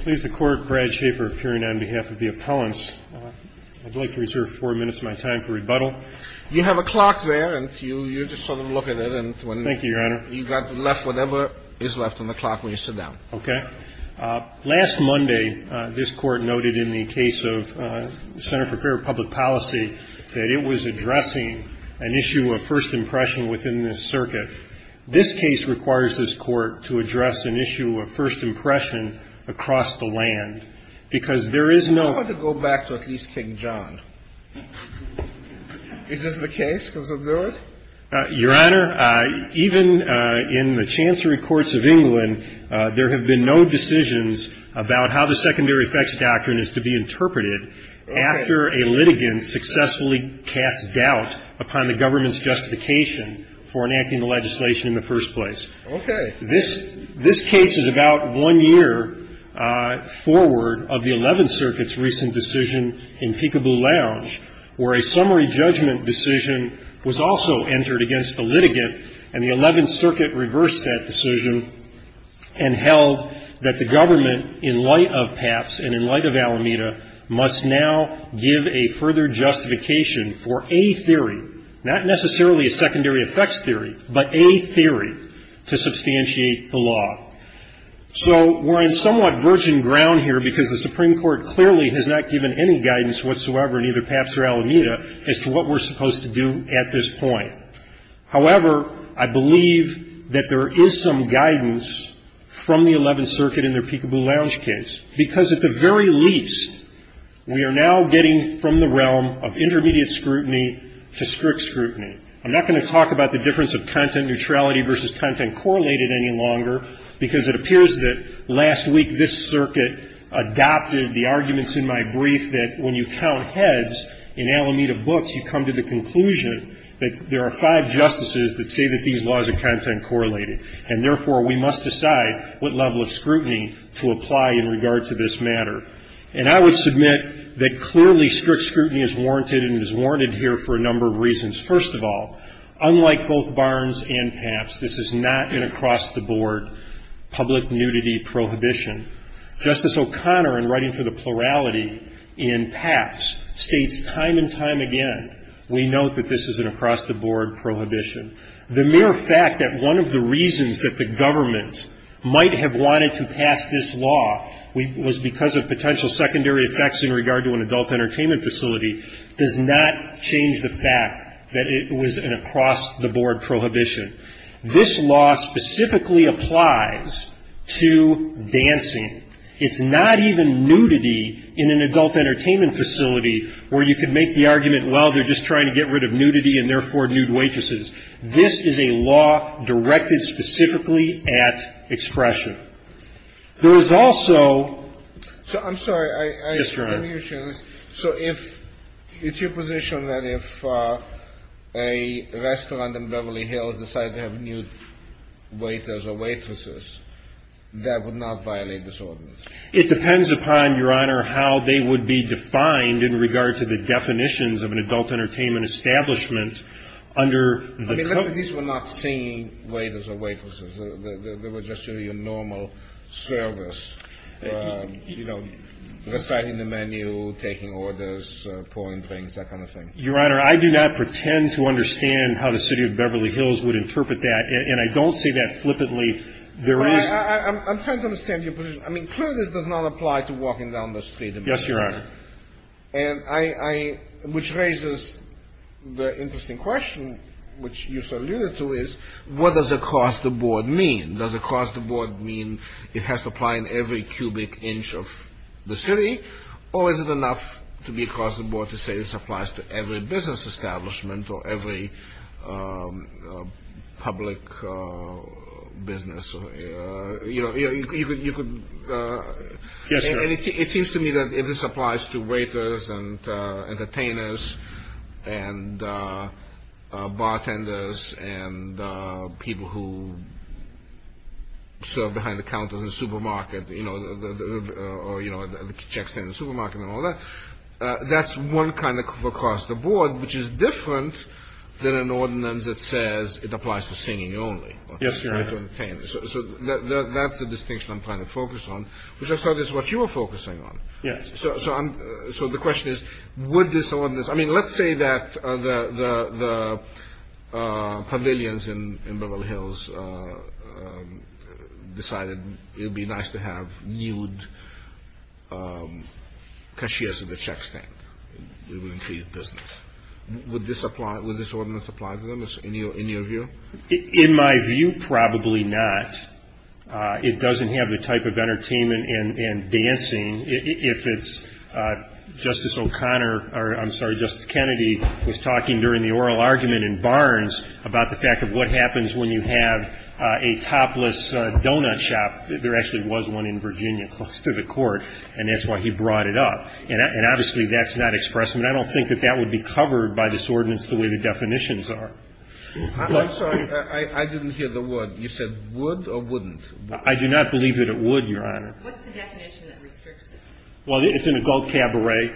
Please the Court, Brad Schaefer appearing on behalf of the appellants. I'd like to reserve four minutes of my time for rebuttal. You have a clock there, and you just sort of look at it. Thank you, Your Honor. You've got to left whatever is left on the clock when you sit down. Okay. Last Monday, this Court noted in the case of the Center for Fair Public Policy that it was addressing an issue of first impression within this circuit. This case requires this Court to address an issue of first impression across the land because there is no I want to go back to at least King John. Is this the case? Does it do it? Your Honor, even in the Chancery Courts of England, there have been no decisions about how the secondary effects doctrine is to be interpreted after a litigant successfully casts doubt upon the government's justification for enacting the legislation in the first place. Okay. This case is about one year forward of the Eleventh Circuit's recent decision in Peekaboo Lounge, where a summary judgment decision was also entered against the litigant, and the Eleventh Circuit reversed that decision and held that the government, in light of PAPS and in light of Alameda, must now give a further justification for a theory, not necessarily a secondary effects theory, but a theory to substantiate the law. So we're on somewhat virgin ground here because the Supreme Court clearly has not given any guidance whatsoever, neither PAPS or Alameda, as to what we're supposed to do at this point. However, I believe that there is some guidance from the Eleventh Circuit in their Peekaboo Lounge case, because at the very least, we are now getting from the realm of intermediate scrutiny to strict scrutiny. I'm not going to talk about the difference of content neutrality versus content correlated any longer, because it appears that last week this circuit adopted the arguments in my brief that when you count heads in Alameda books, you come to the conclusion that there are five justices that say that these laws are content correlated, and therefore, we must decide what level of scrutiny to apply in regard to this matter. And I would submit that clearly strict scrutiny is warranted, and it is warranted here for a number of reasons. First of all, unlike both Barnes and PAPS, this is not an across-the-board public nudity prohibition. Justice O'Connor, in writing for the plurality in PAPS, states time and time again, we note that this is an across-the-board prohibition. The mere fact that one of the reasons that the government might have wanted to pass this law was because of potential secondary effects in regard to an adult entertainment facility does not change the fact that it was an across-the-board prohibition. This law specifically applies to dancing. It's not even nudity in an adult entertainment facility where you can make the argument, well, they're just trying to get rid of nudity and, therefore, nude waitresses. This is a law directed specifically at expression. There is also the discrimination. So if it's your position that if a restaurant in Beverly Hills decided to have nude waiters or waitresses, that would not violate this ordinance? It depends upon, Your Honor, how they would be defined in regard to the definitions of an adult entertainment establishment under the code. I mean, these were not singing waiters or waitresses. They were just your normal service, you know, reciting the menu, taking orders, pouring drinks, that kind of thing. Your Honor, I do not pretend to understand how the city of Beverly Hills would interpret that, and I don't say that flippantly. I'm trying to understand your position. I mean, clearly this does not apply to walking down the street. Yes, Your Honor. And which raises the interesting question, which you alluded to, is what does across-the-board mean? Does across-the-board mean it has to apply in every cubic inch of the city, or is it enough to be across-the-board to say this applies to every business establishment or every public business? You know, you could... Yes, Your Honor. And it seems to me that if this applies to waiters and entertainers and bartenders and people who serve behind the counter in the supermarket, you know, or, you know, the check stand in the supermarket and all that, that's one kind of across-the-board, which is different than an ordinance that says it applies to singing only. Yes, Your Honor. So that's the distinction I'm trying to focus on, which I thought is what you were focusing on. Yes. So the question is, would this ordinance... I mean, let's say that the pavilions in Beverly Hills decided it would be nice to have nude cashiers at the check stand. It would increase business. Would this ordinance apply to them in your view? In my view, probably not. It doesn't have the type of entertainment and dancing. If it's Justice O'Connor or, I'm sorry, Justice Kennedy was talking during the oral argument in Barnes about the fact of what happens when you have a topless donut shop. There actually was one in Virginia close to the court, and that's why he brought it up. And obviously that's not expressed. And I don't think that that would be covered by this ordinance the way the definitions are. I'm sorry. I didn't hear the word. You said would or wouldn't? I do not believe that it would, Your Honor. What's the definition that restricts it? Well, it's an adult cabaret.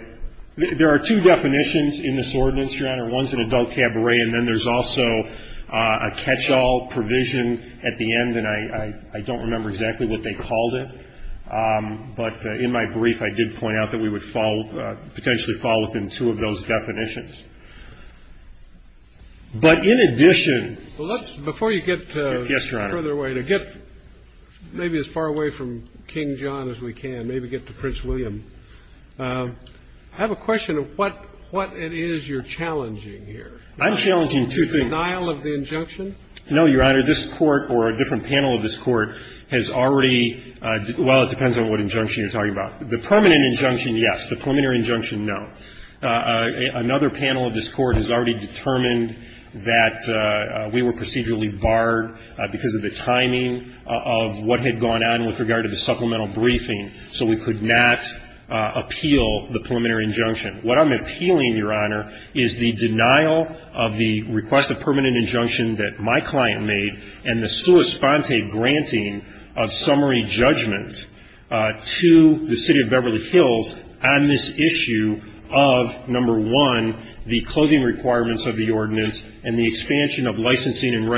There are two definitions in this ordinance, Your Honor. One's an adult cabaret, and then there's also a catch-all provision at the end, and I don't remember exactly what they called it. But in my brief, I did point out that we would potentially fall within two of those definitions. But in addition... Before you get further away, to get maybe as far away from King John as we can, maybe get to Prince William, I have a question of what it is you're challenging here. I'm challenging two things. The denial of the injunction? No, Your Honor. This Court or a different panel of this Court has already – well, it depends on what injunction you're talking about. The permanent injunction, yes. The preliminary injunction, no. Another panel of this Court has already determined that we were procedurally barred because of the timing of what had gone on with regard to the supplemental briefing, so we could not appeal the preliminary injunction. What I'm appealing, Your Honor, is the denial of the request of permanent injunction that my client made and the sua sponte granting of summary judgment to the City of Beverly Hills on this issue of, number one, the clothing requirements of the ordinance and the expansion of licensing and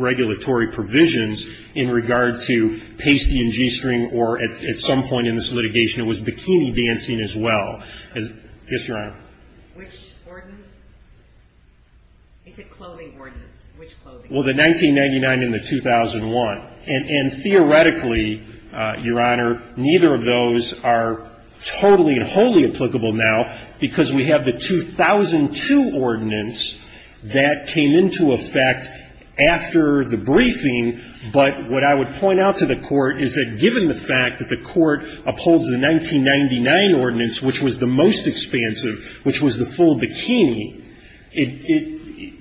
regulatory provisions in regard to pasty and g-string or, at some point in this litigation, it was bikini dancing as well. Yes, Your Honor. Which ordinance? Is it clothing ordinance? Which clothing ordinance? Well, the 1999 and the 2001. And theoretically, Your Honor, neither of those are totally and wholly applicable now because we have the 2002 ordinance that came into effect after the briefing, but what I would point out to the Court is that given the fact that the Court upholds the 1999 ordinance, which was the most expansive, which was the full bikini,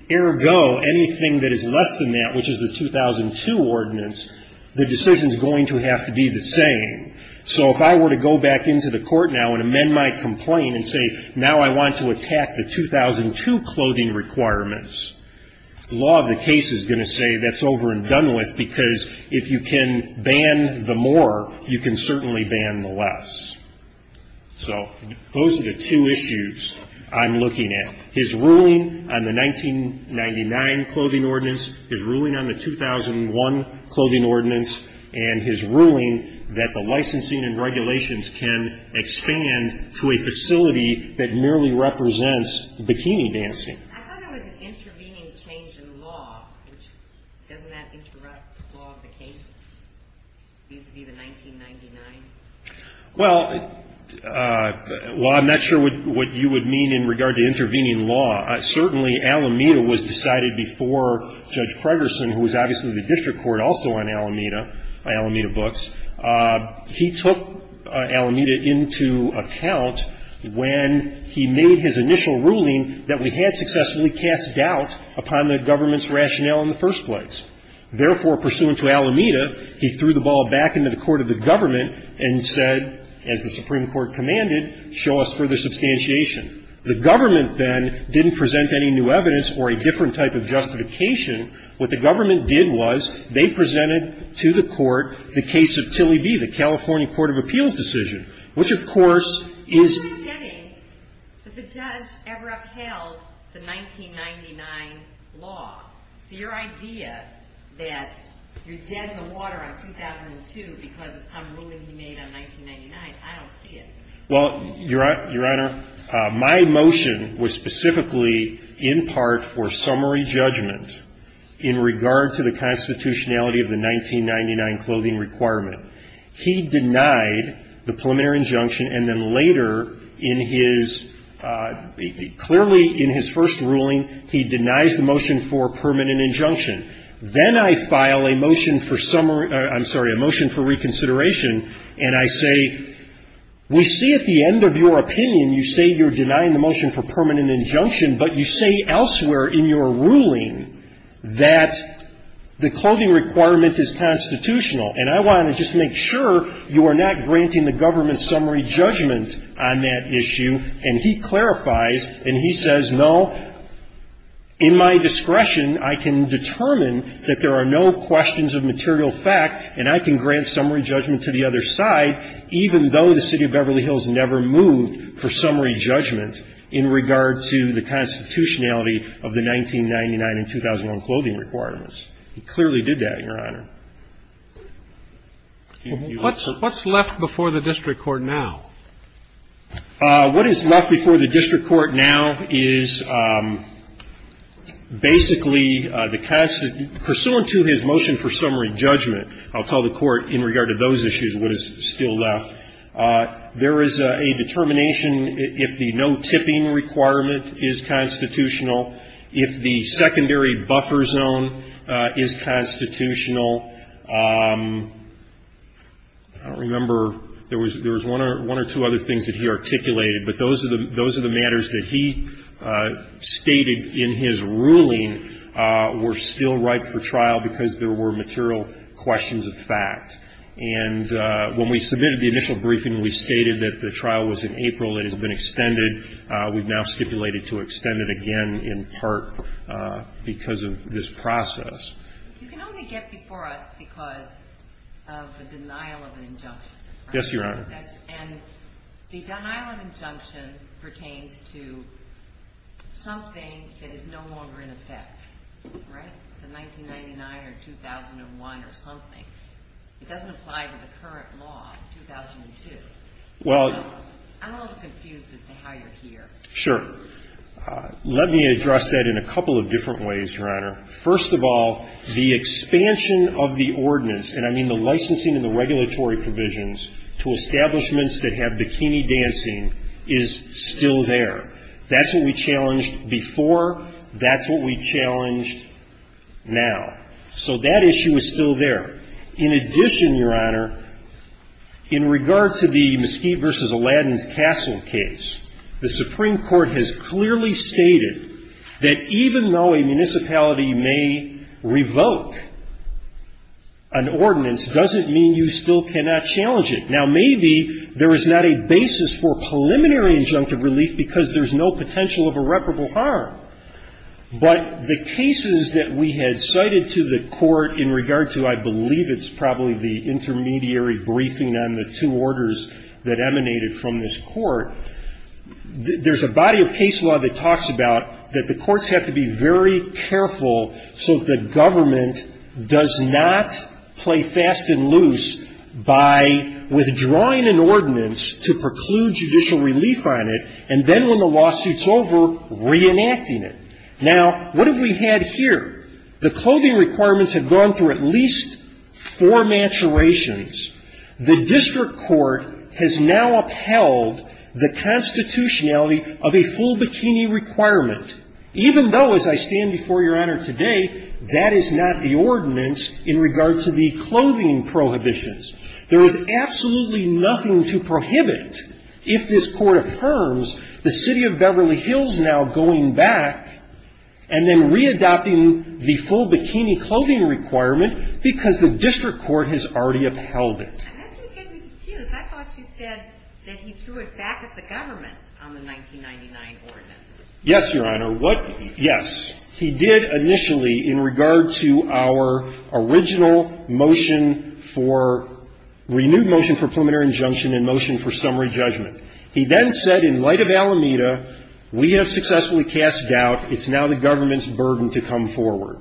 ergo anything that is less than that, which is the 2002 ordinance, the decision is going to have to be the same. So if I were to go back into the Court now and amend my complaint and say, now I want to attack the 2002 clothing requirements, the law of the case is going to say that's over and done with because if you can ban the more, you can certainly ban the less. So those are the two issues I'm looking at. His ruling on the 1999 clothing ordinance, his ruling on the 2001 clothing ordinance, and his ruling that the licensing and regulations can expand to a facility that merely represents bikini dancing. I thought it was an intervening change in law. Doesn't that interrupt the law of the case vis-à-vis the 1999? Well, while I'm not sure what you would mean in regard to intervening law, certainly Alameda was decided before Judge Pregerson, who was obviously the district court also on Alameda, by Alameda Books, he took Alameda into account when he made his initial ruling that we had successfully cast doubt upon the government's rationale in the first place. Therefore, pursuant to Alameda, he threw the ball back into the court of the government and said, as the Supreme Court commanded, show us further substantiation. The government then didn't present any new evidence or a different type of justification. What the government did was they presented to the court the case of Tilly B., the California Court of Appeals decision, which, of course, is — Well, Your Honor, my motion was specifically in part for summary judgment in regard to the constitutionality of the 1999 clothing requirement. He denied the preliminary injunction, and then later in his — clearly in his first ruling, he denies the motion for permanent injunction. Then I file a motion for summary — I'm sorry, a motion for reconsideration, and I say, we see at the end of your opinion you say you're denying the motion for permanent injunction, but you say elsewhere in your ruling that the clothing requirement is constitutional. And I want to just make sure you are not granting the government summary judgment on that issue. And he clarifies, and he says, no, in my discretion, I can determine that there are no questions of material fact, and I can grant summary judgment to the other side, even though the City of Beverly Hills never moved for summary judgment in regard to the constitutionality of the 1999 and 2001 clothing requirements. He clearly did that, Your Honor. What's left before the district court now? What is left before the district court now is basically the — pursuant to his motion for summary judgment, I'll tell the Court in regard to those issues what is still left, there is a determination if the no-tipping requirement is constitutional, if the secondary buffer zone is constitutional. I don't remember — there was one or two other things that he articulated, but those are the matters that he stated in his ruling were still right for trial because there were material questions of fact. And when we submitted the initial briefing, we stated that the trial was in April. It has been extended. We've now stipulated to extend it again in part because of this process. You can only get before us because of the denial of an injunction. Yes, Your Honor. And the denial of injunction pertains to something that is no longer in effect, right? The 1999 or 2001 or something, it doesn't apply to the current law, 2002. Well — I'm a little confused as to how you're here. Sure. Let me address that in a couple of different ways, Your Honor. First of all, the expansion of the ordinance, and I mean the licensing and the regulatory provisions, to establishments that have bikini dancing is still there. That's what we challenged before. That's what we challenged now. So that issue is still there. In addition, Your Honor, in regard to the Mesquite v. Alladin's Castle case, the Supreme Court has clearly stated that even though a municipality may revoke an ordinance doesn't mean you still cannot challenge it. Now, maybe there is not a basis for preliminary injunctive relief because there's no potential of irreparable harm. But the cases that we had cited to the Court in regard to, I believe it's probably the intermediary briefing on the two orders that emanated from this Court, there's a body of case law that talks about that the courts have to be very careful so that the government does not play fast and loose by withdrawing an ordinance to preclude judicial relief on it, and then when the lawsuit's over, reenacting it. Now, what have we had here? The clothing requirements have gone through at least four maturations. The district court has now upheld the constitutionality of a full bikini requirement, even though, as I stand before Your Honor today, that is not the ordinance in regard to the clothing prohibitions. There is absolutely nothing to prohibit if this Court affirms the city of Beverly Hills now going back and then readopting the full bikini clothing requirement because the district court has already upheld it. And that's what gets me confused. I thought you said that he threw it back at the government on the 1999 ordinance. Yes, Your Honor. What — yes. He did initially in regard to our original motion for renewed motion for preliminary injunction and motion for summary judgment. He then said in light of Alameda, we have successfully cast doubt. It's now the government's burden to come forward.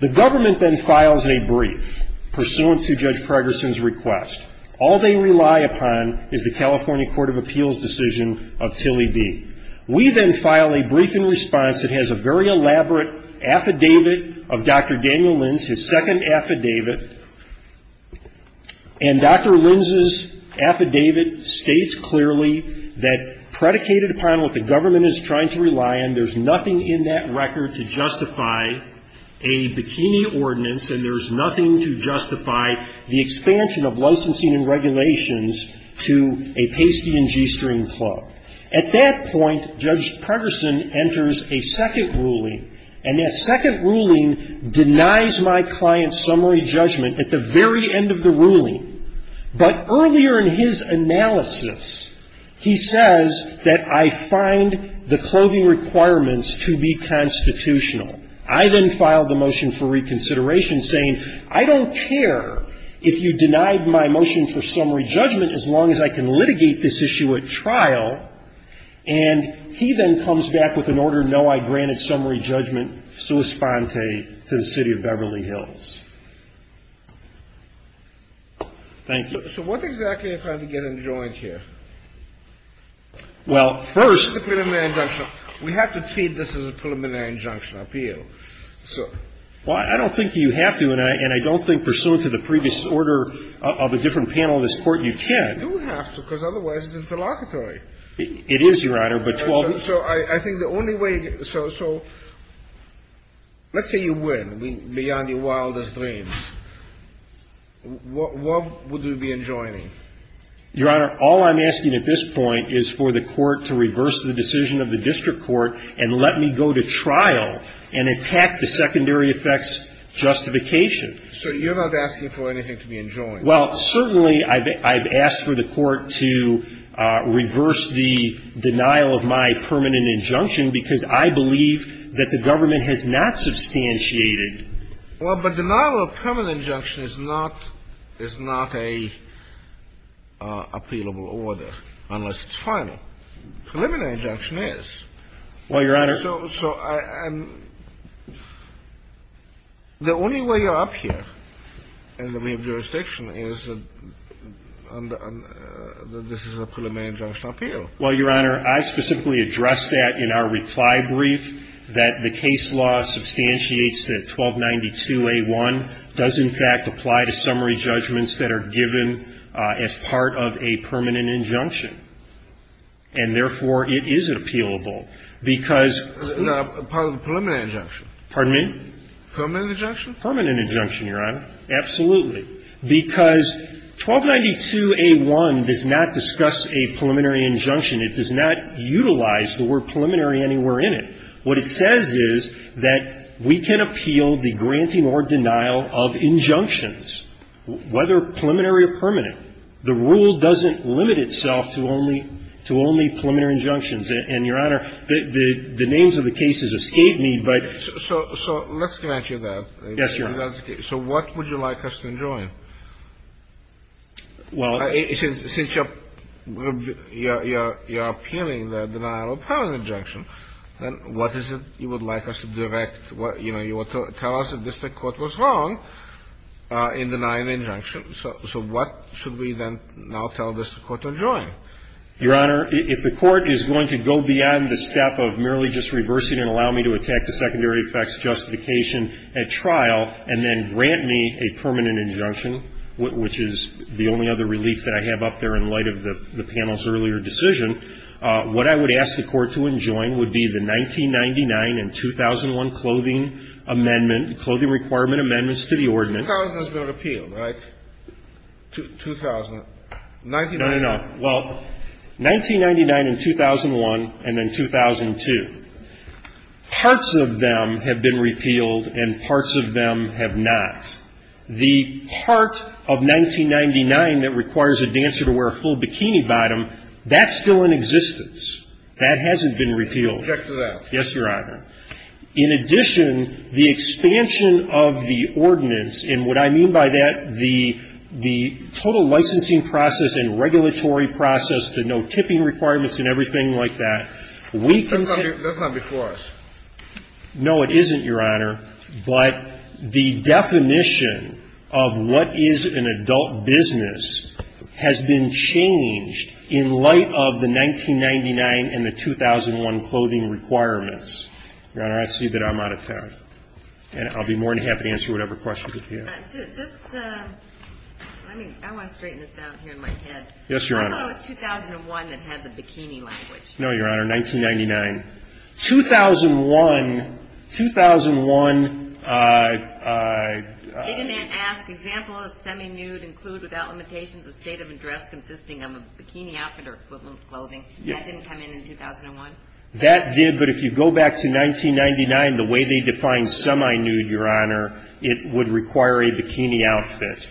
The government then files a brief pursuant to Judge Pregerson's request. All they rely upon is the California Court of Appeals' decision of Tilly D. We then file a brief in response that has a very elaborate affidavit of Dr. Daniel Linz, his second affidavit. And Dr. Linz's affidavit states clearly that predicated upon what the government is trying to rely on, there's nothing in that record to justify a bikini ordinance, and there's nothing to justify the expansion of licensing and regulations to a pasty and g-string club. At that point, Judge Pregerson enters a second ruling, and that second ruling denies my client's summary judgment at the very end of the ruling. But earlier in his analysis, he says that I find the clothing requirements to be constitutional. I then filed the motion for reconsideration saying, I don't care if you denied my motion for summary judgment as long as I can litigate this issue at trial. And he then comes back with an order, no, I granted summary judgment, sua sponte, to the City of Beverly Hills. Thank you. So what exactly am I trying to get enjoined here? Well, first the preliminary injunction. We have to treat this as a preliminary injunction appeal. Well, I don't think you have to, and I don't think pursuant to the previous order of a different panel of this Court, you can. You have to, because otherwise it's interlocutory. It is, Your Honor. So I think the only way you get to, so let's say you win beyond your wildest dreams. What would you be enjoining? Your Honor, all I'm asking at this point is for the Court to reverse the decision of the district court and let me go to trial, and attack the secondary effects justification. So you're not asking for anything to be enjoined? Well, certainly I've asked for the Court to reverse the denial of my permanent injunction, because I believe that the government has not substantiated. Well, but denial of permanent injunction is not a appealable order, unless it's final. Well, Your Honor. So the only way you're up here in the jurisdiction is that this is a preliminary injunction appeal. Well, Your Honor, I specifically addressed that in our reply brief, that the case law substantiates that 1292A1 does, in fact, apply to summary judgments that are given as part of a permanent injunction. And, therefore, it is appealable, because there are part of the preliminary injunction. Pardon me? Permanent injunction? Permanent injunction, Your Honor. Absolutely. Because 1292A1 does not discuss a preliminary injunction. It does not utilize the word preliminary anywhere in it. What it says is that we can appeal the granting or denial of injunctions, whether preliminary or permanent. The rule doesn't limit itself to only to only preliminary injunctions. And, Your Honor, the names of the cases escape me, but so. So let's connect you to that. Yes, Your Honor. So what would you like us to enjoin? Well, it says since you're appealing the denial of permanent injunction, then what is it you would like us to direct? You know, you want to tell us that this Court was wrong in denying the injunction. So what should we then now tell this Court to enjoin? Your Honor, if the Court is going to go beyond the step of merely just reversing and allow me to attack the secondary effects justification at trial and then grant me a permanent injunction, which is the only other relief that I have up there in light of the panel's earlier decision, what I would ask the Court to enjoin would be the 1999 and 2001 clothing amendment, clothing requirement amendments to the ordinance. 2000 has been repealed, right? 2000. No, no, no. Well, 1999 and 2001 and then 2002. Parts of them have been repealed and parts of them have not. The part of 1999 that requires a dancer to wear a full bikini bottom, that's still in existence. That hasn't been repealed. Object to that. Yes, Your Honor. In addition, the expansion of the ordinance, and what I mean by that, the total licensing process and regulatory process, the no tipping requirements and everything like that, we can say that's not before us. No, it isn't, Your Honor. But the definition of what is an adult business has been changed in light of the 1999 and the 2001 clothing requirements. Your Honor, I see that I'm out of time. And I'll be more than happy to answer whatever questions you have. Just, let me, I want to straighten this out here in my head. Yes, Your Honor. I thought it was 2001 that had the bikini language. No, Your Honor, 1999. 2001, 2001. It didn't ask, example of semi-nude include without limitations a state of address consisting of a bikini outfit or equivalent clothing. That didn't come in in 2001? That did, but if you go back to 1999, the way they defined semi-nude, Your Honor, it would require a bikini outfit.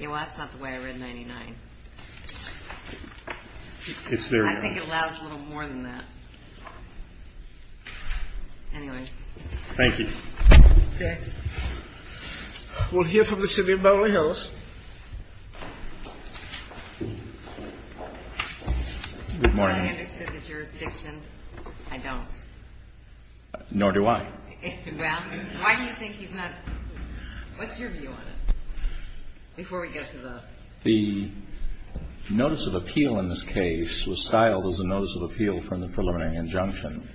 Well, that's not the way I read 1999. It's there. I think it allows a little more than that. Anyway. Thank you. Okay. We'll hear from the city of Beverly Hills. Good morning. I understood the jurisdiction. I don't. Nor do I. Well, why do you think he's not, what's your view on it? Before we get to the. The notice of appeal in this case was styled as a notice of appeal from the preliminary injunction.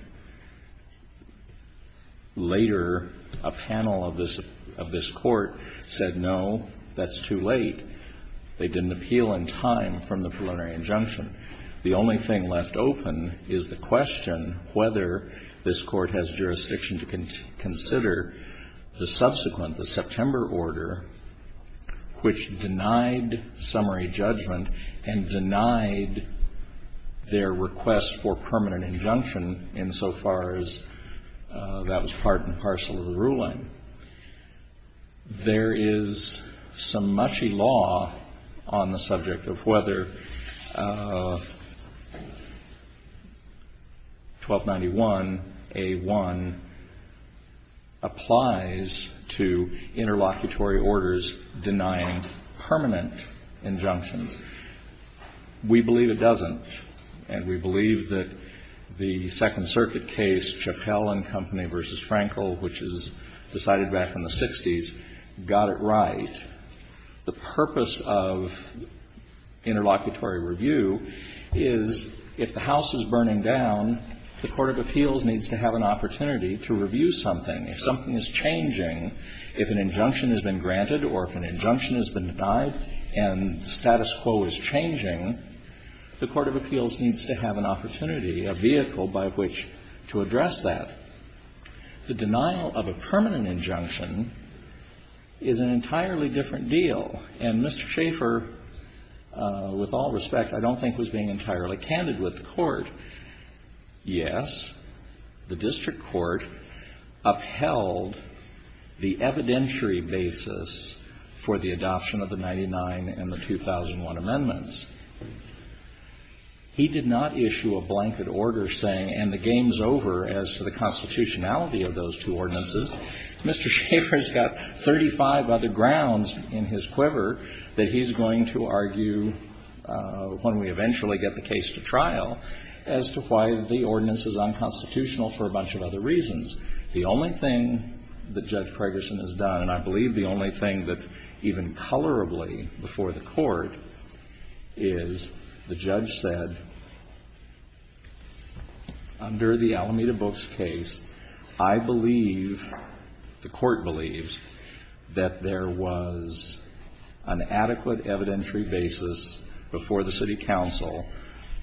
Later, a panel of this court said, no, that's too late. They didn't appeal in time from the preliminary injunction. The only thing left open is the question whether this court has jurisdiction to consider the subsequent, the September order, which denied summary judgment and denied their request for permanent injunction insofar as that was part and parcel of the ruling. There is some mushy law on the subject of whether 1291A1 applies to interlocutory orders denying permanent injunctions. We believe it doesn't, and we believe that the Second Circuit case, Chappell and Company v. Frankel, which was decided back in the 60s, got it right. The purpose of interlocutory review is if the house is burning down, the court of appeals needs to have an opportunity to review something. If something is changing, if an injunction has been granted or if an injunction has been denied and status quo is changing, the court of appeals needs to have an opportunity, a vehicle by which to address that. The denial of a permanent injunction is an entirely different deal. And Mr. Schaeffer, with all respect, I don't think was being entirely candid with the court. Yes, the district court upheld the evidentiary basis for the adoption of the 99 and the 2001 amendments. He did not issue a blanket order saying, and the game's over as to the constitutionality of those two ordinances. Mr. Schaeffer's got 35 other grounds in his quiver that he's going to argue when we eventually get the case to trial. As to why the ordinance is unconstitutional for a bunch of other reasons. The only thing that Judge Pregerson has done, and I believe the only thing that's even colorably before the court, is the judge said, under the Alameda Books case, I believe, the court believes, that there was an adequate evidentiary basis before the city council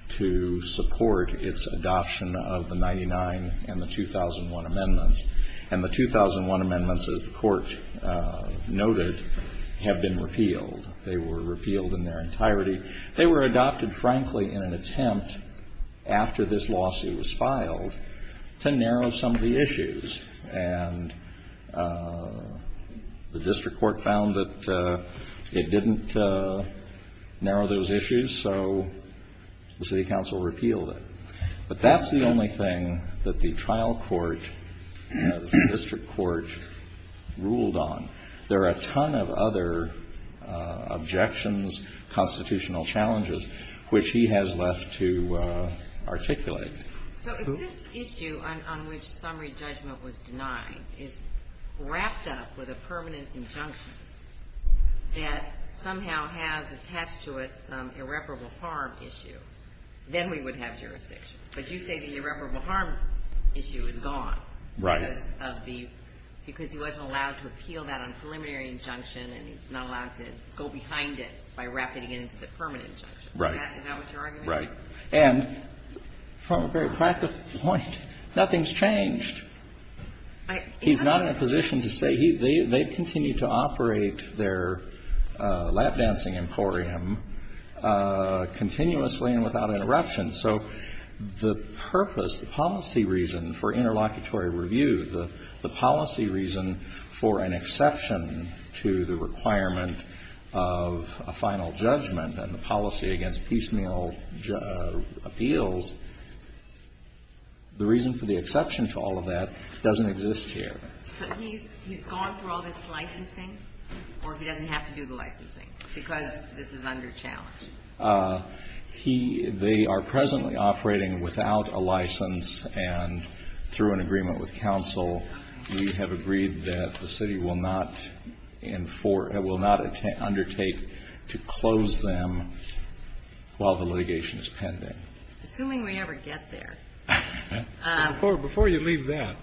to support the adoption of the 99 and the 2001 amendments. And the 2001 amendments, as the court noted, have been repealed. They were repealed in their entirety. They were adopted, frankly, in an attempt, after this lawsuit was filed, to narrow some of the issues. And the district court found that it didn't narrow those issues, so the city council repealed it. But that's the only thing that the trial court, the district court, ruled on. There are a ton of other objections, constitutional challenges, which he has left to articulate. So if this issue on which summary judgment was denied is wrapped up with a permanent injunction, that somehow has attached to it some irreparable harm issue, then we would have jurisdiction. But you say the irreparable harm issue is gone. Right. Because he wasn't allowed to appeal that on preliminary injunction, and he's not allowed to go behind it by wrapping it into the permanent injunction. Right. Is that what your argument is? Right. And from a very practical point, nothing's changed. He's not in a position to say. They continue to operate their lap-dancing emporium continuously and without interruption. So the purpose, the policy reason for interlocutory review, the policy reason for an exception to the requirement of a final judgment and the policy against piecemeal appeals, the reason for the exception to all of that doesn't exist here. But he's gone through all this licensing, or he doesn't have to do the licensing because this is under challenge? He they are presently operating without a license, and through an agreement with counsel, we have agreed that the city will not undertake to close them while the litigation is pending. Assuming we ever get there. Before you leave that,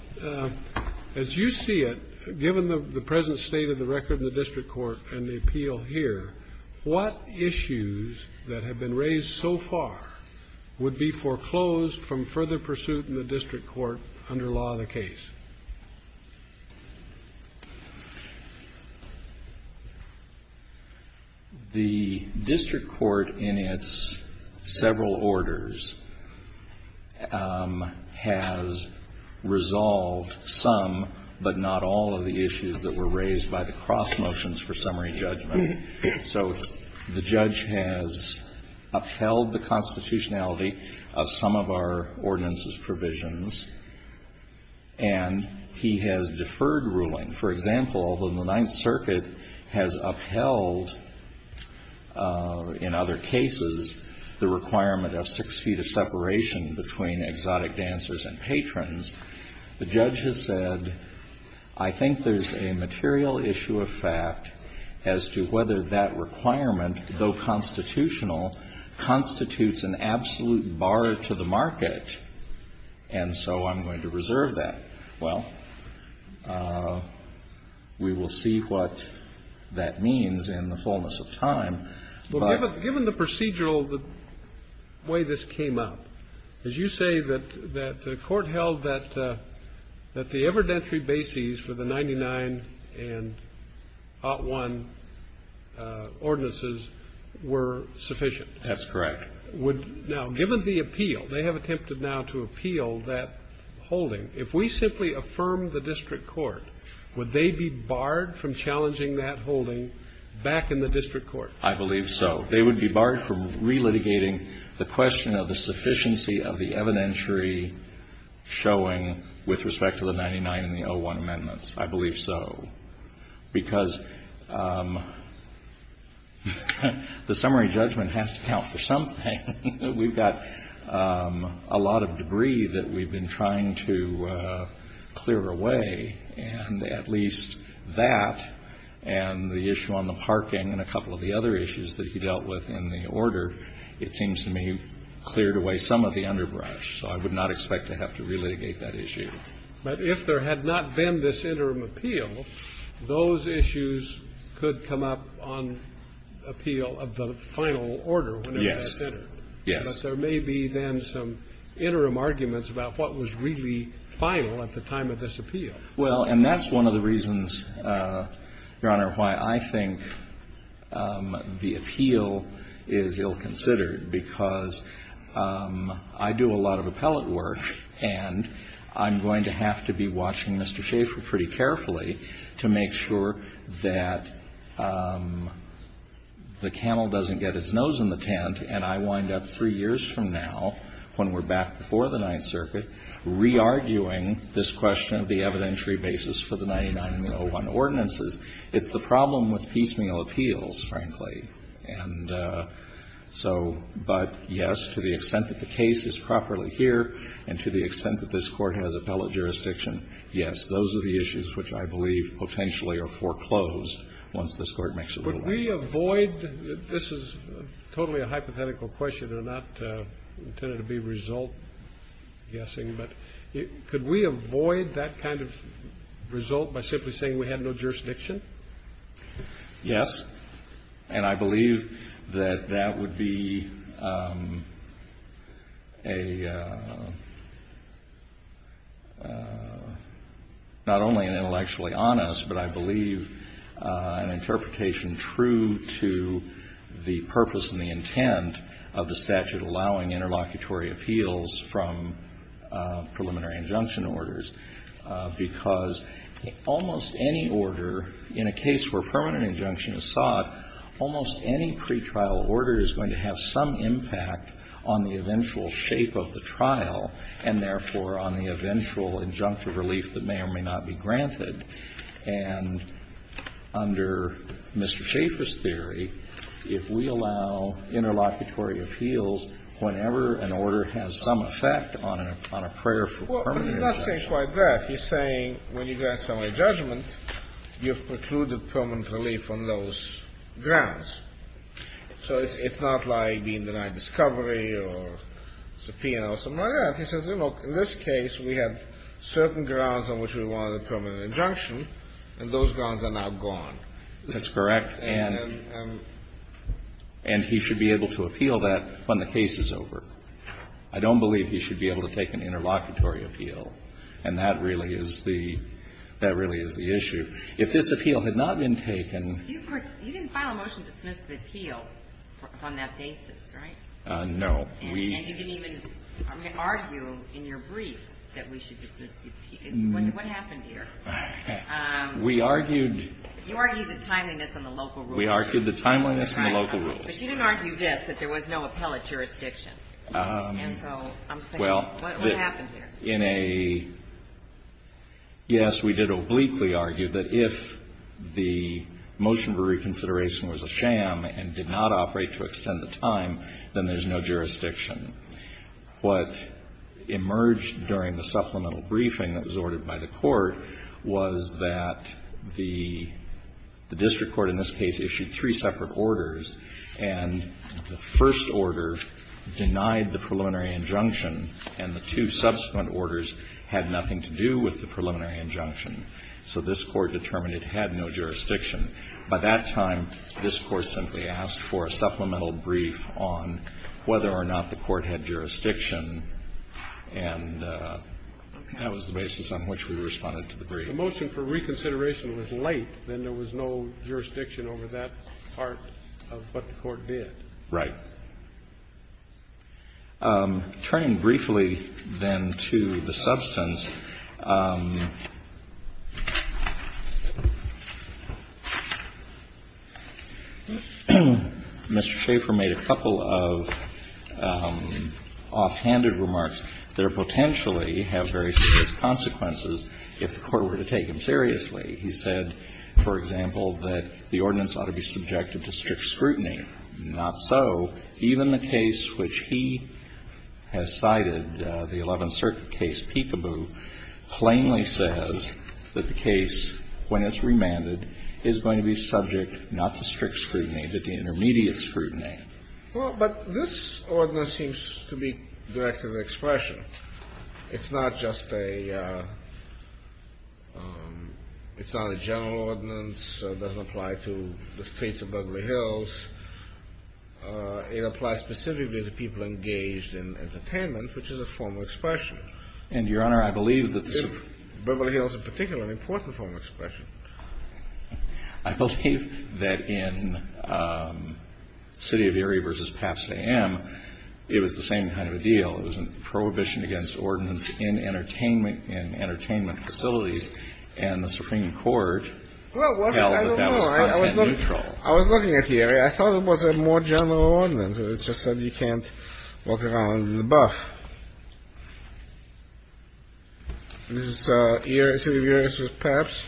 as you see it, given the present state of the record in the district court and the appeal here, what issues that have been raised so far would be foreclosed from further pursuit in the district court under law of the case? The district court in its several orders has resolved some, but not all, of the issues that were raised by the cross motions for summary judgment. So the judge has upheld the constitutionality of some of our ordinances provisions, and he has deferred ruling. For example, although the Ninth Circuit has upheld in other cases the requirement of six feet of separation between exotic dancers and patrons, the judge has said, I think there's a material issue of fact as to whether that requirement, though constitutional, constitutes an absolute bar to the market, and so I'm going to reserve that. Well, we will see what that means in the fullness of time. But given the procedural way this came up, as you say that the court held that the evidentiary bases for the 99 and Ott 1 ordinances were sufficient. That's correct. Now, given the appeal, they have attempted now to appeal that holding, if we simply affirm the district court, would they be barred from challenging that holding back in the district court? I believe so. They would be barred from relitigating the question of the sufficiency of the evidentiary showing with respect to the 99 and the Ott 1 amendments. I believe so. Because the summary judgment has to count for something. We've got a lot of debris that we've been trying to clear away, and at least that and the issue on the parking and a couple of the other issues that he dealt with in the order, it seems to me cleared away some of the underbrush. So I would not expect to have to relitigate that issue. But if there had not been this interim appeal, those issues could come up on appeal of the final order whenever that's entered. Yes. But there may be then some interim arguments about what was really final at the time of this appeal. Well, and that's one of the reasons, Your Honor, why I think the appeal is ill-considered because I do a lot of appellate work and I'm going to have to be watching Mr. Schaefer pretty carefully to make sure that the camel doesn't get his nose in the tent and I wind up three years from now when we're back before the Ninth Circuit re-arguing this question of the evidentiary basis for the 99 and the Ott 1 ordinances. It's the problem with piecemeal appeals, frankly. And so but, yes, to the extent that the case is properly here and to the extent that this Court has appellate jurisdiction, yes, those are the issues which I believe potentially are foreclosed once this Court makes a ruling. Could we avoid this is totally a hypothetical question and not intended to be result guessing, but could we avoid that kind of result by simply saying we had no jurisdiction? Yes. And I believe that that would be a, not only an intellectually honest, but I believe an interpretation true to the purpose and the intent of the statute allowing interlocutory appeals from preliminary injunction orders. Because almost any order, in a case where permanent injunction is sought, almost any pretrial order is going to have some impact on the eventual shape of the trial and, therefore, on the eventual injunctive relief that may or may not be granted. And under Mr. Schaefer's theory, if we allow interlocutory appeals whenever an order has some effect on a prayer for permanent injunction. Well, he's not saying quite that. He's saying when you grant summary judgment, you have precluded permanent relief on those grounds. So it's not like being denied discovery or subpoena or something like that. He says, look, in this case, we have certain grounds on which we wanted a permanent injunction, and those grounds are now gone. That's correct. And he should be able to appeal that when the case is over. I don't believe he should be able to take an interlocutory appeal. And that really is the issue. If this appeal had not been taken. You didn't file a motion to dismiss the appeal on that basis, right? No. And you didn't even argue in your brief that we should dismiss the appeal. What happened here? We argued. You argued the timeliness and the local rules. We argued the timeliness and the local rules. But you didn't argue this, that there was no appellate jurisdiction. And so I'm saying what happened here? Well, in a yes, we did obliquely argue that if the motion for reconsideration was a sham and did not operate to extend the time, then there's no jurisdiction. What emerged during the supplemental briefing that was ordered by the Court was that the district court in this case issued three separate orders, and the first order denied the preliminary injunction, and the two subsequent orders had nothing to do with the preliminary injunction. So this Court determined it had no jurisdiction. By that time, this Court simply asked for a supplemental brief on whether or not the Court had jurisdiction, and that was the basis on which we responded to the brief. If the motion for reconsideration was late, then there was no jurisdiction over that part of what the Court did. Right. Turning briefly, then, to the substance, Mr. Schaffer made a couple of offhanded remarks that are potentially have very serious consequences if the Court were to dismiss He said, for example, that the ordinance ought to be subjected to strict scrutiny. Not so. Even the case which he has cited, the Eleventh Circuit case, Peekaboo, plainly says that the case, when it's remanded, is going to be subject not to strict scrutiny, but to intermediate scrutiny. Well, but this ordinance seems to be directed at expression. It's not just a general ordinance. It doesn't apply to the States of Beverly Hills. It applies specifically to people engaged in entertainment, which is a form of expression. And, Your Honor, I believe that the State of Beverly Hills in particular is an important form of expression. I believe that in City of Erie v. Pabst AM, it was the same kind of a deal. It was a prohibition against ordinance in entertainment facilities. And the Supreme Court held that that was content neutral. I was looking at the area. I thought it was a more general ordinance. It just said you can't walk around in the buff. This is City of Erie v. Pabst.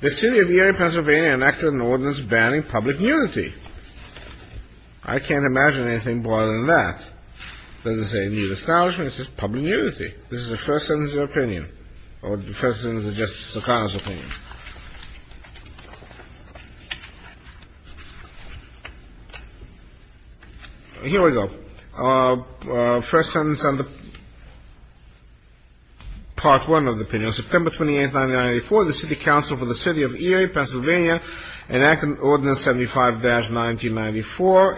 The City of Erie, Pennsylvania enacted an ordinance banning public nudity. I can't imagine anything more than that. It doesn't say you need establishment. It says public nudity. This is the first sentence of the opinion, or the first sentence of Justice Sotomayor's opinion. Here we go. First sentence under Part 1 of the opinion. September 28th, 1994, the City Council for the City of Erie, Pennsylvania enacted Ordinance 75-1994,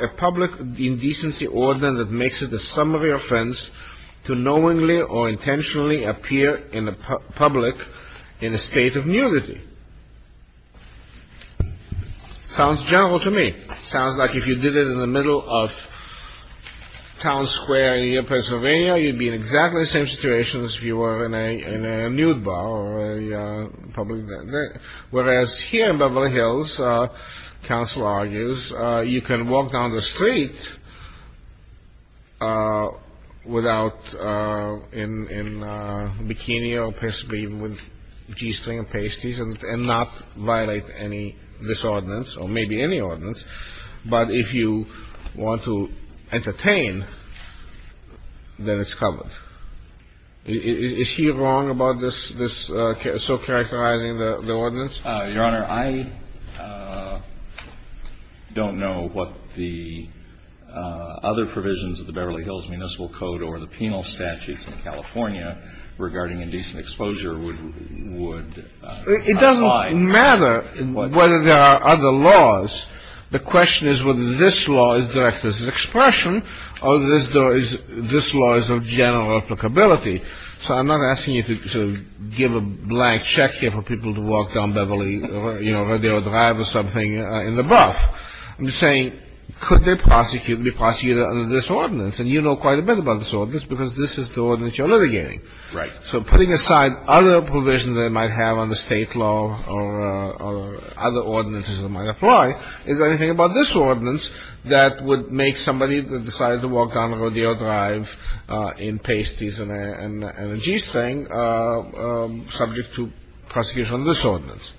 a public indecency ordinance that makes it a summary offense to knowingly or intentionally appear in the public in a state of nudity. Sounds general to me. Sounds like if you did it in the middle of Town Square in Pennsylvania, you'd be in exactly the same situation as if you were in a nude bar. Whereas here in Beverly Hills, counsel argues, you can walk down the street without in a bikini or with G-string and pasties and not violate any disordinance, or maybe any ordinance, but if you want to entertain, then it's covered. Is he wrong about this so characterizing the ordinance? Your Honor, I don't know what the other provisions of the Beverly Hills Municipal Code or the penal statutes in California regarding indecent exposure would apply. It doesn't matter whether there are other laws. The question is whether this law is directed as an expression or this law is of general applicability. So I'm not asking you to give a blank check here for people to walk down Beverly, you know, Radio Drive or something in the buff. I'm just saying, could they prosecute, be prosecuted under this ordinance? And you know quite a bit about this ordinance because this is the ordinance you're litigating. Right. So putting aside other provisions they might have on the State law or other ordinances that might apply, is there anything about this ordinance that would make somebody that decided to walk down Radio Drive in pasties and a G-string subject to prosecution on this ordinance?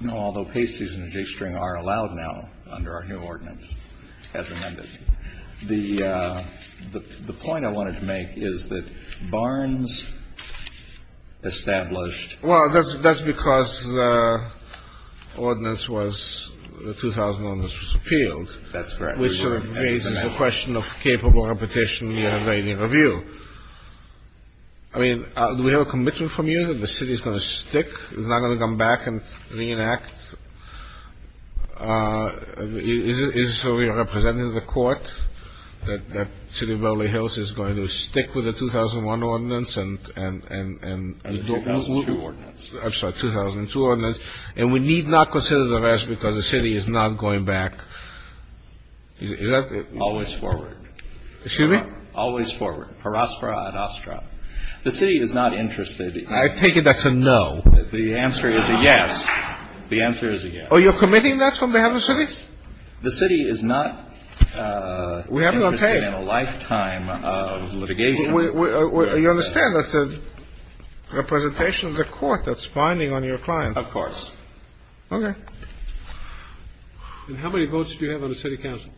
No, although pasties and a G-string are allowed now under our new ordinance as amended. The point I wanted to make is that Barnes established. Well, that's because the ordinance was, the 2001 ordinance was repealed. That's correct. Which sort of raises the question of capable reputation in the Iranian review. I mean, do we have a commitment from you that the city is going to stick, is not going to come back and reenact? Is it so we are representing the court that the city of Beverly Hills is going to stick with the 2001 ordinance and... And the 2002 ordinance. I'm sorry, 2002 ordinance. And we need not consider the rest because the city is not going back. Is that... Always forward. Excuse me? Always forward. Haraspera ad astra. The city is not interested in... I take it that's a no. The answer is a yes. The answer is a yes. Oh, you're committing that on behalf of the city? The city is not... We haven't obtained... Interested in a lifetime of litigation. You understand that's a representation of the court that's binding on your client. Of course. Okay. And how many votes do you have on the city council?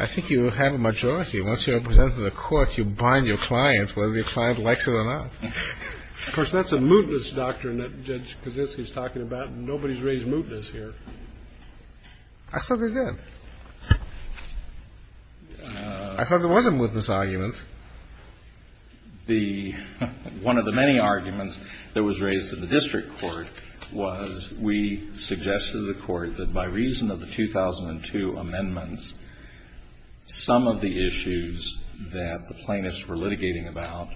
I think you have a majority. Once you represent the court, you bind your client whether your client likes it or not. Of course, that's a mootness doctrine that Judge Kaczynski is talking about. Nobody's raised mootness here. I thought they did. I thought there was a mootness argument. The one of the many arguments that was raised in the district court was we suggested to the court that by reason of the 2002 amendments, some of the issues that the plaintiffs were litigating about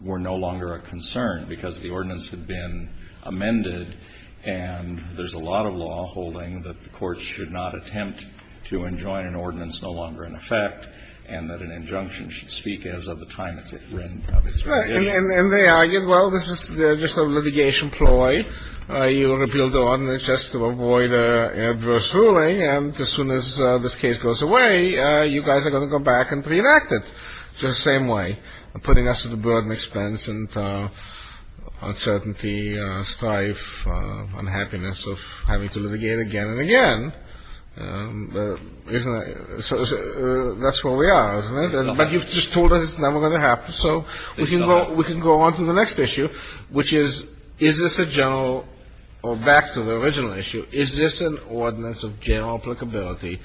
were no longer a concern because the ordinance had been amended and there's a lot of law holding that the courts should not attempt to enjoin an ordinance no longer in effect and that an injunction should speak as of the time it's been written. And they argued, well, this is just a litigation ploy. You're going to build an ordinance just to avoid adverse ruling, and as soon as this case goes away, you guys are going to go back and reenact it the same way, putting us at a burden expense and uncertainty, strife, unhappiness of having to litigate again and again. That's where we are, isn't it? But you've just told us it's never going to happen, so we can go on to the next issue, which is is this a general, or back to the original issue, is this an ordinance of general applicability?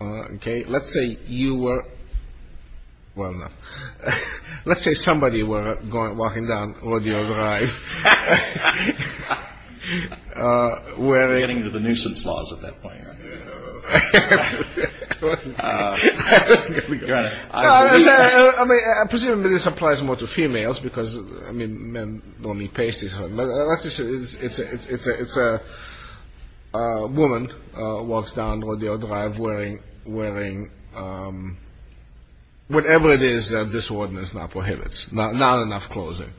Okay, let's say you were, well, no. Let's say somebody were walking down Rodeo Drive. Getting to the nuisance laws at that point. I presume this applies more to females because, I mean, men don't need pasties. It's a woman walks down Rodeo Drive wearing whatever it is that this ordinance now prohibits, not enough clothing.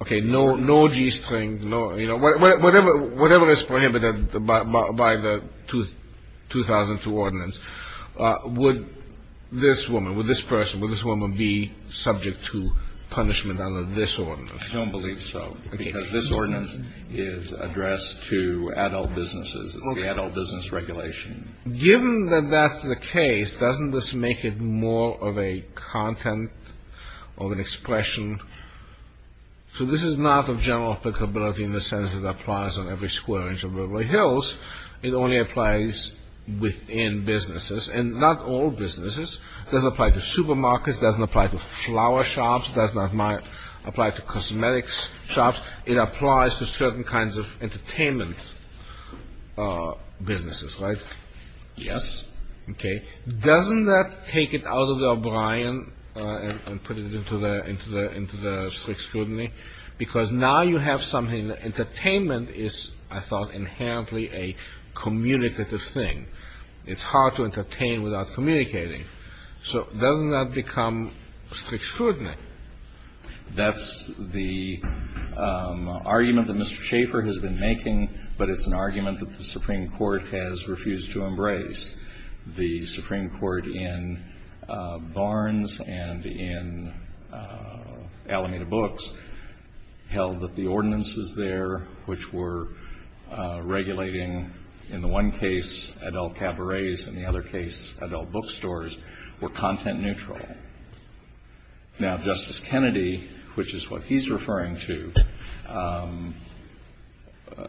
Okay, no g-string. Whatever is prohibited by the 2002 ordinance, would this woman, would this person, would this woman be subject to punishment under this ordinance? I don't believe so because this ordinance is addressed to adult businesses. It's the adult business regulation. Given that that's the case, doesn't this make it more of a content, of an expression? So this is not of general applicability in the sense that it applies on every square inch of Redwood Hills. It only applies within businesses, and not all businesses. It doesn't apply to supermarkets. It doesn't apply to flower shops. It does not apply to cosmetics shops. It applies to certain kinds of entertainment businesses, right? Yes. Okay. Doesn't that take it out of the O'Brien and put it into the strict scrutiny? Because now you have something that entertainment is, I thought, inherently a communicative thing. It's hard to entertain without communicating. So doesn't that become strict scrutiny? That's the argument that Mr. Schaffer has been making, but it's an argument that the Supreme Court has refused to embrace. The Supreme Court in Barnes and in Alameda Books held that the ordinances there, which were regulating, in the one case, adult cabarets, and in the other case, adult bookstores, were content neutral. Now, Justice Kennedy, which is what he's referring to,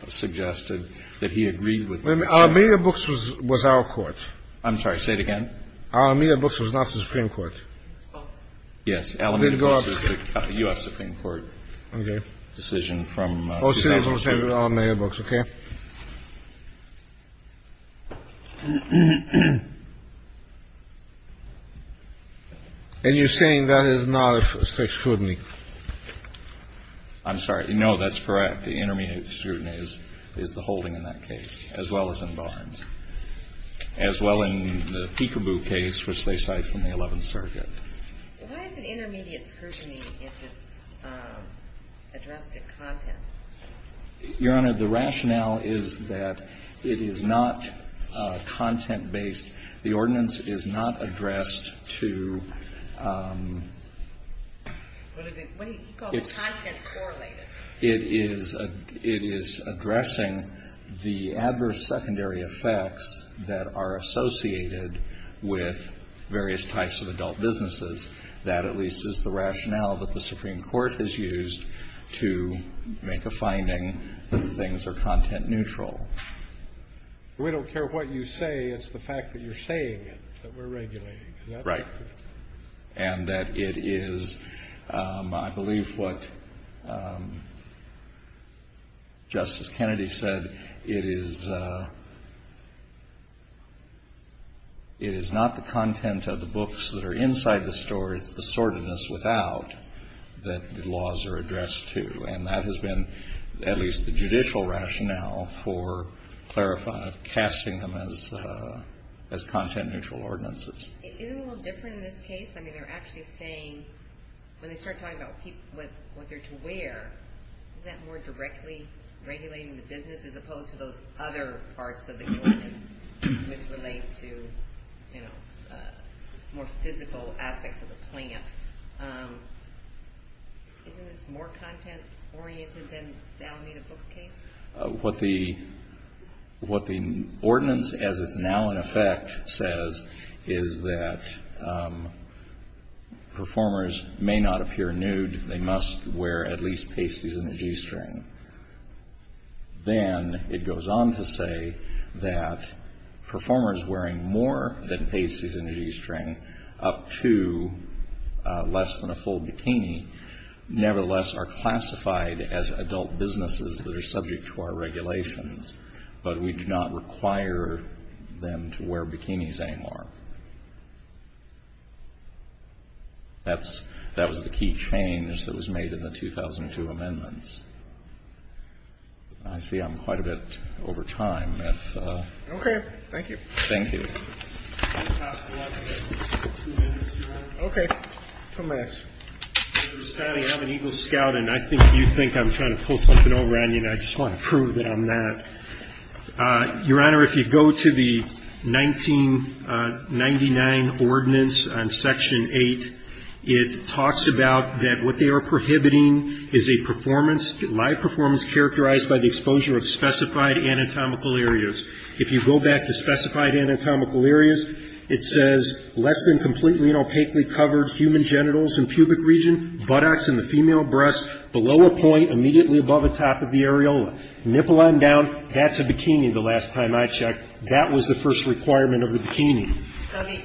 suggested that he agreed with this. Wait a minute. Alameda Books was our court. I'm sorry. Say it again. Alameda Books was not the Supreme Court. Yes. Alameda Books was the U.S. Supreme Court decision from 2002. OK. And you're saying that is not strict scrutiny. I'm sorry. No, that's correct. Intermediate scrutiny is the holding in that case, as well as in Barnes, as well in the peekaboo case, which they cite from the 11th Circuit. Why is it intermediate scrutiny if it's addressed at content? Your Honor, the rationale is that it is not content-based. The ordinance is not addressed to what is it? He calls it content-correlated. It is addressing the adverse secondary effects that are associated with various types of adult businesses. That at least is the rationale that the Supreme Court has used to make a finding that things are content-neutral. We don't care what you say. It's the fact that you're saying it that we're regulating. Right. And that it is, I believe, what Justice Kennedy said. It is not the content of the books that are inside the store. It's the sordidness without that the laws are addressed to. And that has been at least the judicial rationale for casting them as content-neutral ordinances. Isn't it a little different in this case? I mean, they're actually saying when they start talking about what they're to wear, isn't that more directly regulating the business as opposed to those other parts of the ordinance which relate to more physical aspects of the plant? Isn't this more content-oriented than the Alameda Books case? What the ordinance as it's now in effect says is that performers may not appear nude. They must wear at least pasties and a g-string. Then it goes on to say that performers wearing more than pasties and a g-string up to less than a full bikini, nevertheless, are classified as adult businesses that are subject to our regulations. But we do not require them to wear bikinis anymore. That was the key change that was made in the 2002 amendments. I see I'm quite a bit over time. Okay. Thank you. Thank you. Okay. Come back. I'm an Eagle Scout, and I think you think I'm trying to pull something over on you, and I just want to prove that I'm not. Your Honor, if you go to the 1999 ordinance on Section 8, it talks about that what they are prohibiting is a performance, live performance characterized by the exposure of specified anatomical areas. If you go back to specified anatomical areas, it says less than completely and opaquely covered human genitals and pubic region, buttocks and the female breast, below a point immediately above the top of the areola. Nipple on down, that's a bikini the last time I checked. That was the first requirement of the bikini. So the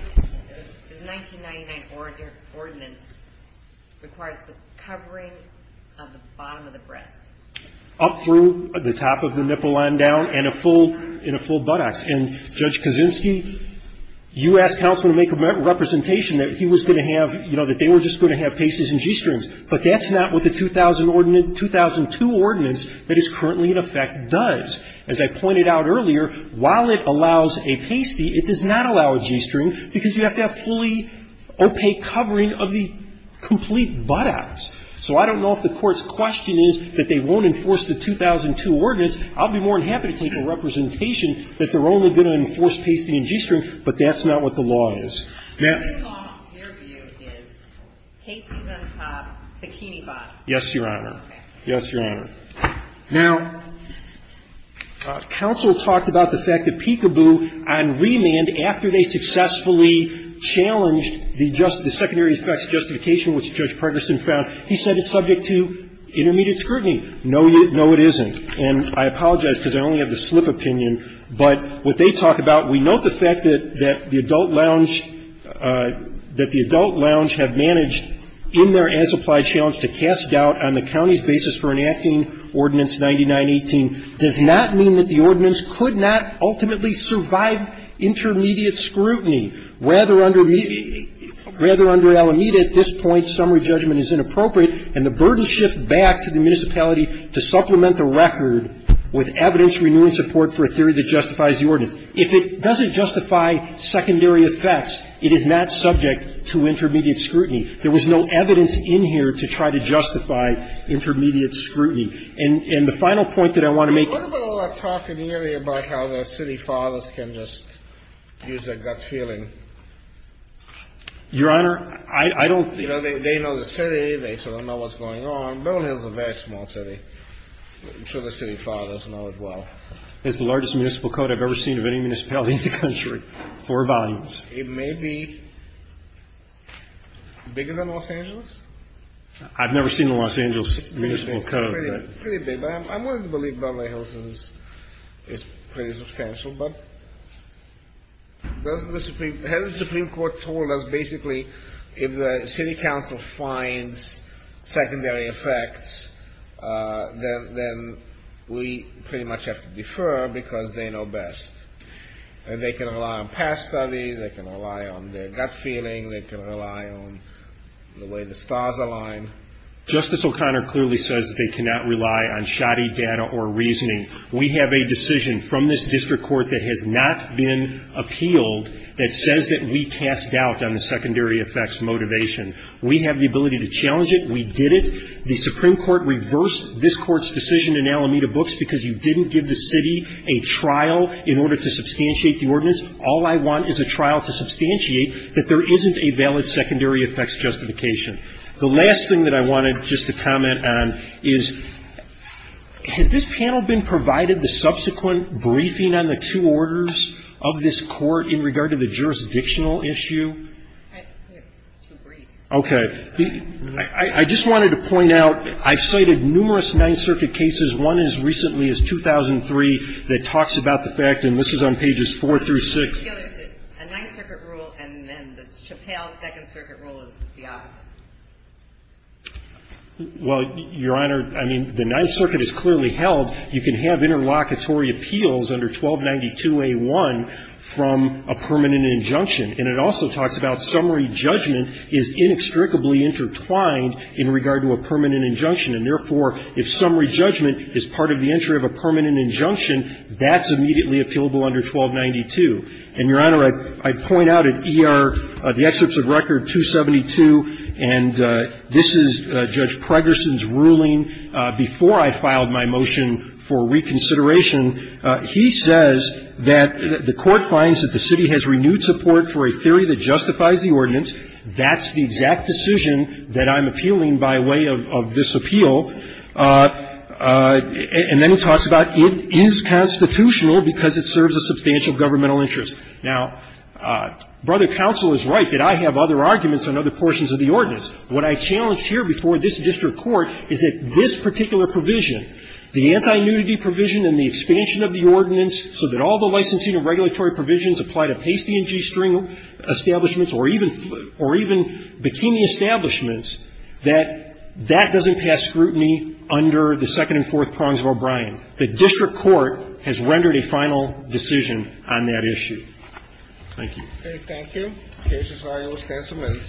1999 ordinance requires the covering of the bottom of the breast. Up through the top of the nipple on down and a full buttocks. And Judge Kaczynski, you asked counsel to make a representation that he was going to have, you know, that they were just going to have pasties and g-strings, but that's not what the 2002 ordinance that is currently in effect does. As I pointed out earlier, while it allows a pasty, it does not allow a g-string because you have to have fully opaque covering of the complete buttocks. So I don't know if the Court's question is that they won't enforce the 2002 ordinance. I'll be more than happy to take a representation that they're only going to enforce pasty and g-string, but that's not what the law is. Now — The law, in your view, is pasties on top, bikini bottom. Yes, Your Honor. Okay. Yes, Your Honor. Now, counsel talked about the fact that Peekaboo on remand, after they successfully challenged the secondary effects justification, which Judge Pregerson found, he said it's subject to intermediate scrutiny. No, it isn't. And I apologize because I only have the slip opinion. But what they talk about, we note the fact that the adult lounge have managed in their as-applied challenge to cast doubt on the county's basis for enacting Ordinance 9918 does not mean that the ordinance could not ultimately survive intermediate scrutiny, whether under Alameda at this point summary judgment is inappropriate and the burden shift back to the municipality to supplement the record with evidence renewing support for a theory that justifies the ordinance. If it doesn't justify secondary effects, it is not subject to intermediate scrutiny. There was no evidence in here to try to justify intermediate scrutiny. And the final point that I want to make — I don't know how the city fathers can just use their gut feeling. Your Honor, I don't — You know, they know the city. They sort of know what's going on. Beverly Hills is a very small city. I'm sure the city fathers know it well. It's the largest municipal code I've ever seen of any municipality in the country, four volumes. It may be bigger than Los Angeles. I've never seen the Los Angeles municipal code. I'm willing to believe Beverly Hills is pretty substantial, but the head of the Supreme Court told us basically if the city council finds secondary effects, then we pretty much have to defer because they know best. They can rely on past studies. They can rely on their gut feeling. They can rely on the way the stars align. Justice O'Connor clearly says that they cannot rely on shoddy data or reasoning. We have a decision from this district court that has not been appealed that says that we cast doubt on the secondary effects motivation. We have the ability to challenge it. We did it. The Supreme Court reversed this Court's decision in Alameda Books because you didn't give the city a trial in order to substantiate the ordinance. All I want is a trial to substantiate that there isn't a valid secondary effects justification. The last thing that I wanted just to comment on is, has this panel been provided the subsequent briefing on the two orders of this Court in regard to the jurisdictional issue? Okay. I just wanted to point out I cited numerous Ninth Circuit cases, one as recently as 2003 that talks about the fact, and this is on pages 4 through 6. I feel there's a Ninth Circuit rule and then the Chappelle's Second Circuit rule is the opposite. Well, Your Honor, I mean, the Ninth Circuit has clearly held you can have interlocutory appeals under 1292a1 from a permanent injunction. And it also talks about summary judgment is inextricably intertwined in regard to a permanent injunction. And therefore, if summary judgment is part of the entry of a permanent injunction, that's immediately appealable under 1292. And, Your Honor, I point out at ER, the excerpts of record 272, and this is Judge Pregerson's ruling before I filed my motion for reconsideration. He says that the Court finds that the city has renewed support for a theory that justifies the ordinance. That's the exact decision that I'm appealing by way of this appeal. And then he talks about it is constitutional because it serves a substantial governmental interest. Now, Brother Counsel is right that I have other arguments on other portions of the ordinance. What I challenge here before this district court is that this particular provision, the anti-nudity provision and the expansion of the ordinance so that all the licensing and regulatory provisions apply to pasty and g-string establishments or even bikini establishments, that that doesn't pass scrutiny under the second and fourth prongs of O'Brien. The district court has rendered a final decision on that issue. Thank you. Thank you. The case is valid with stance amendments.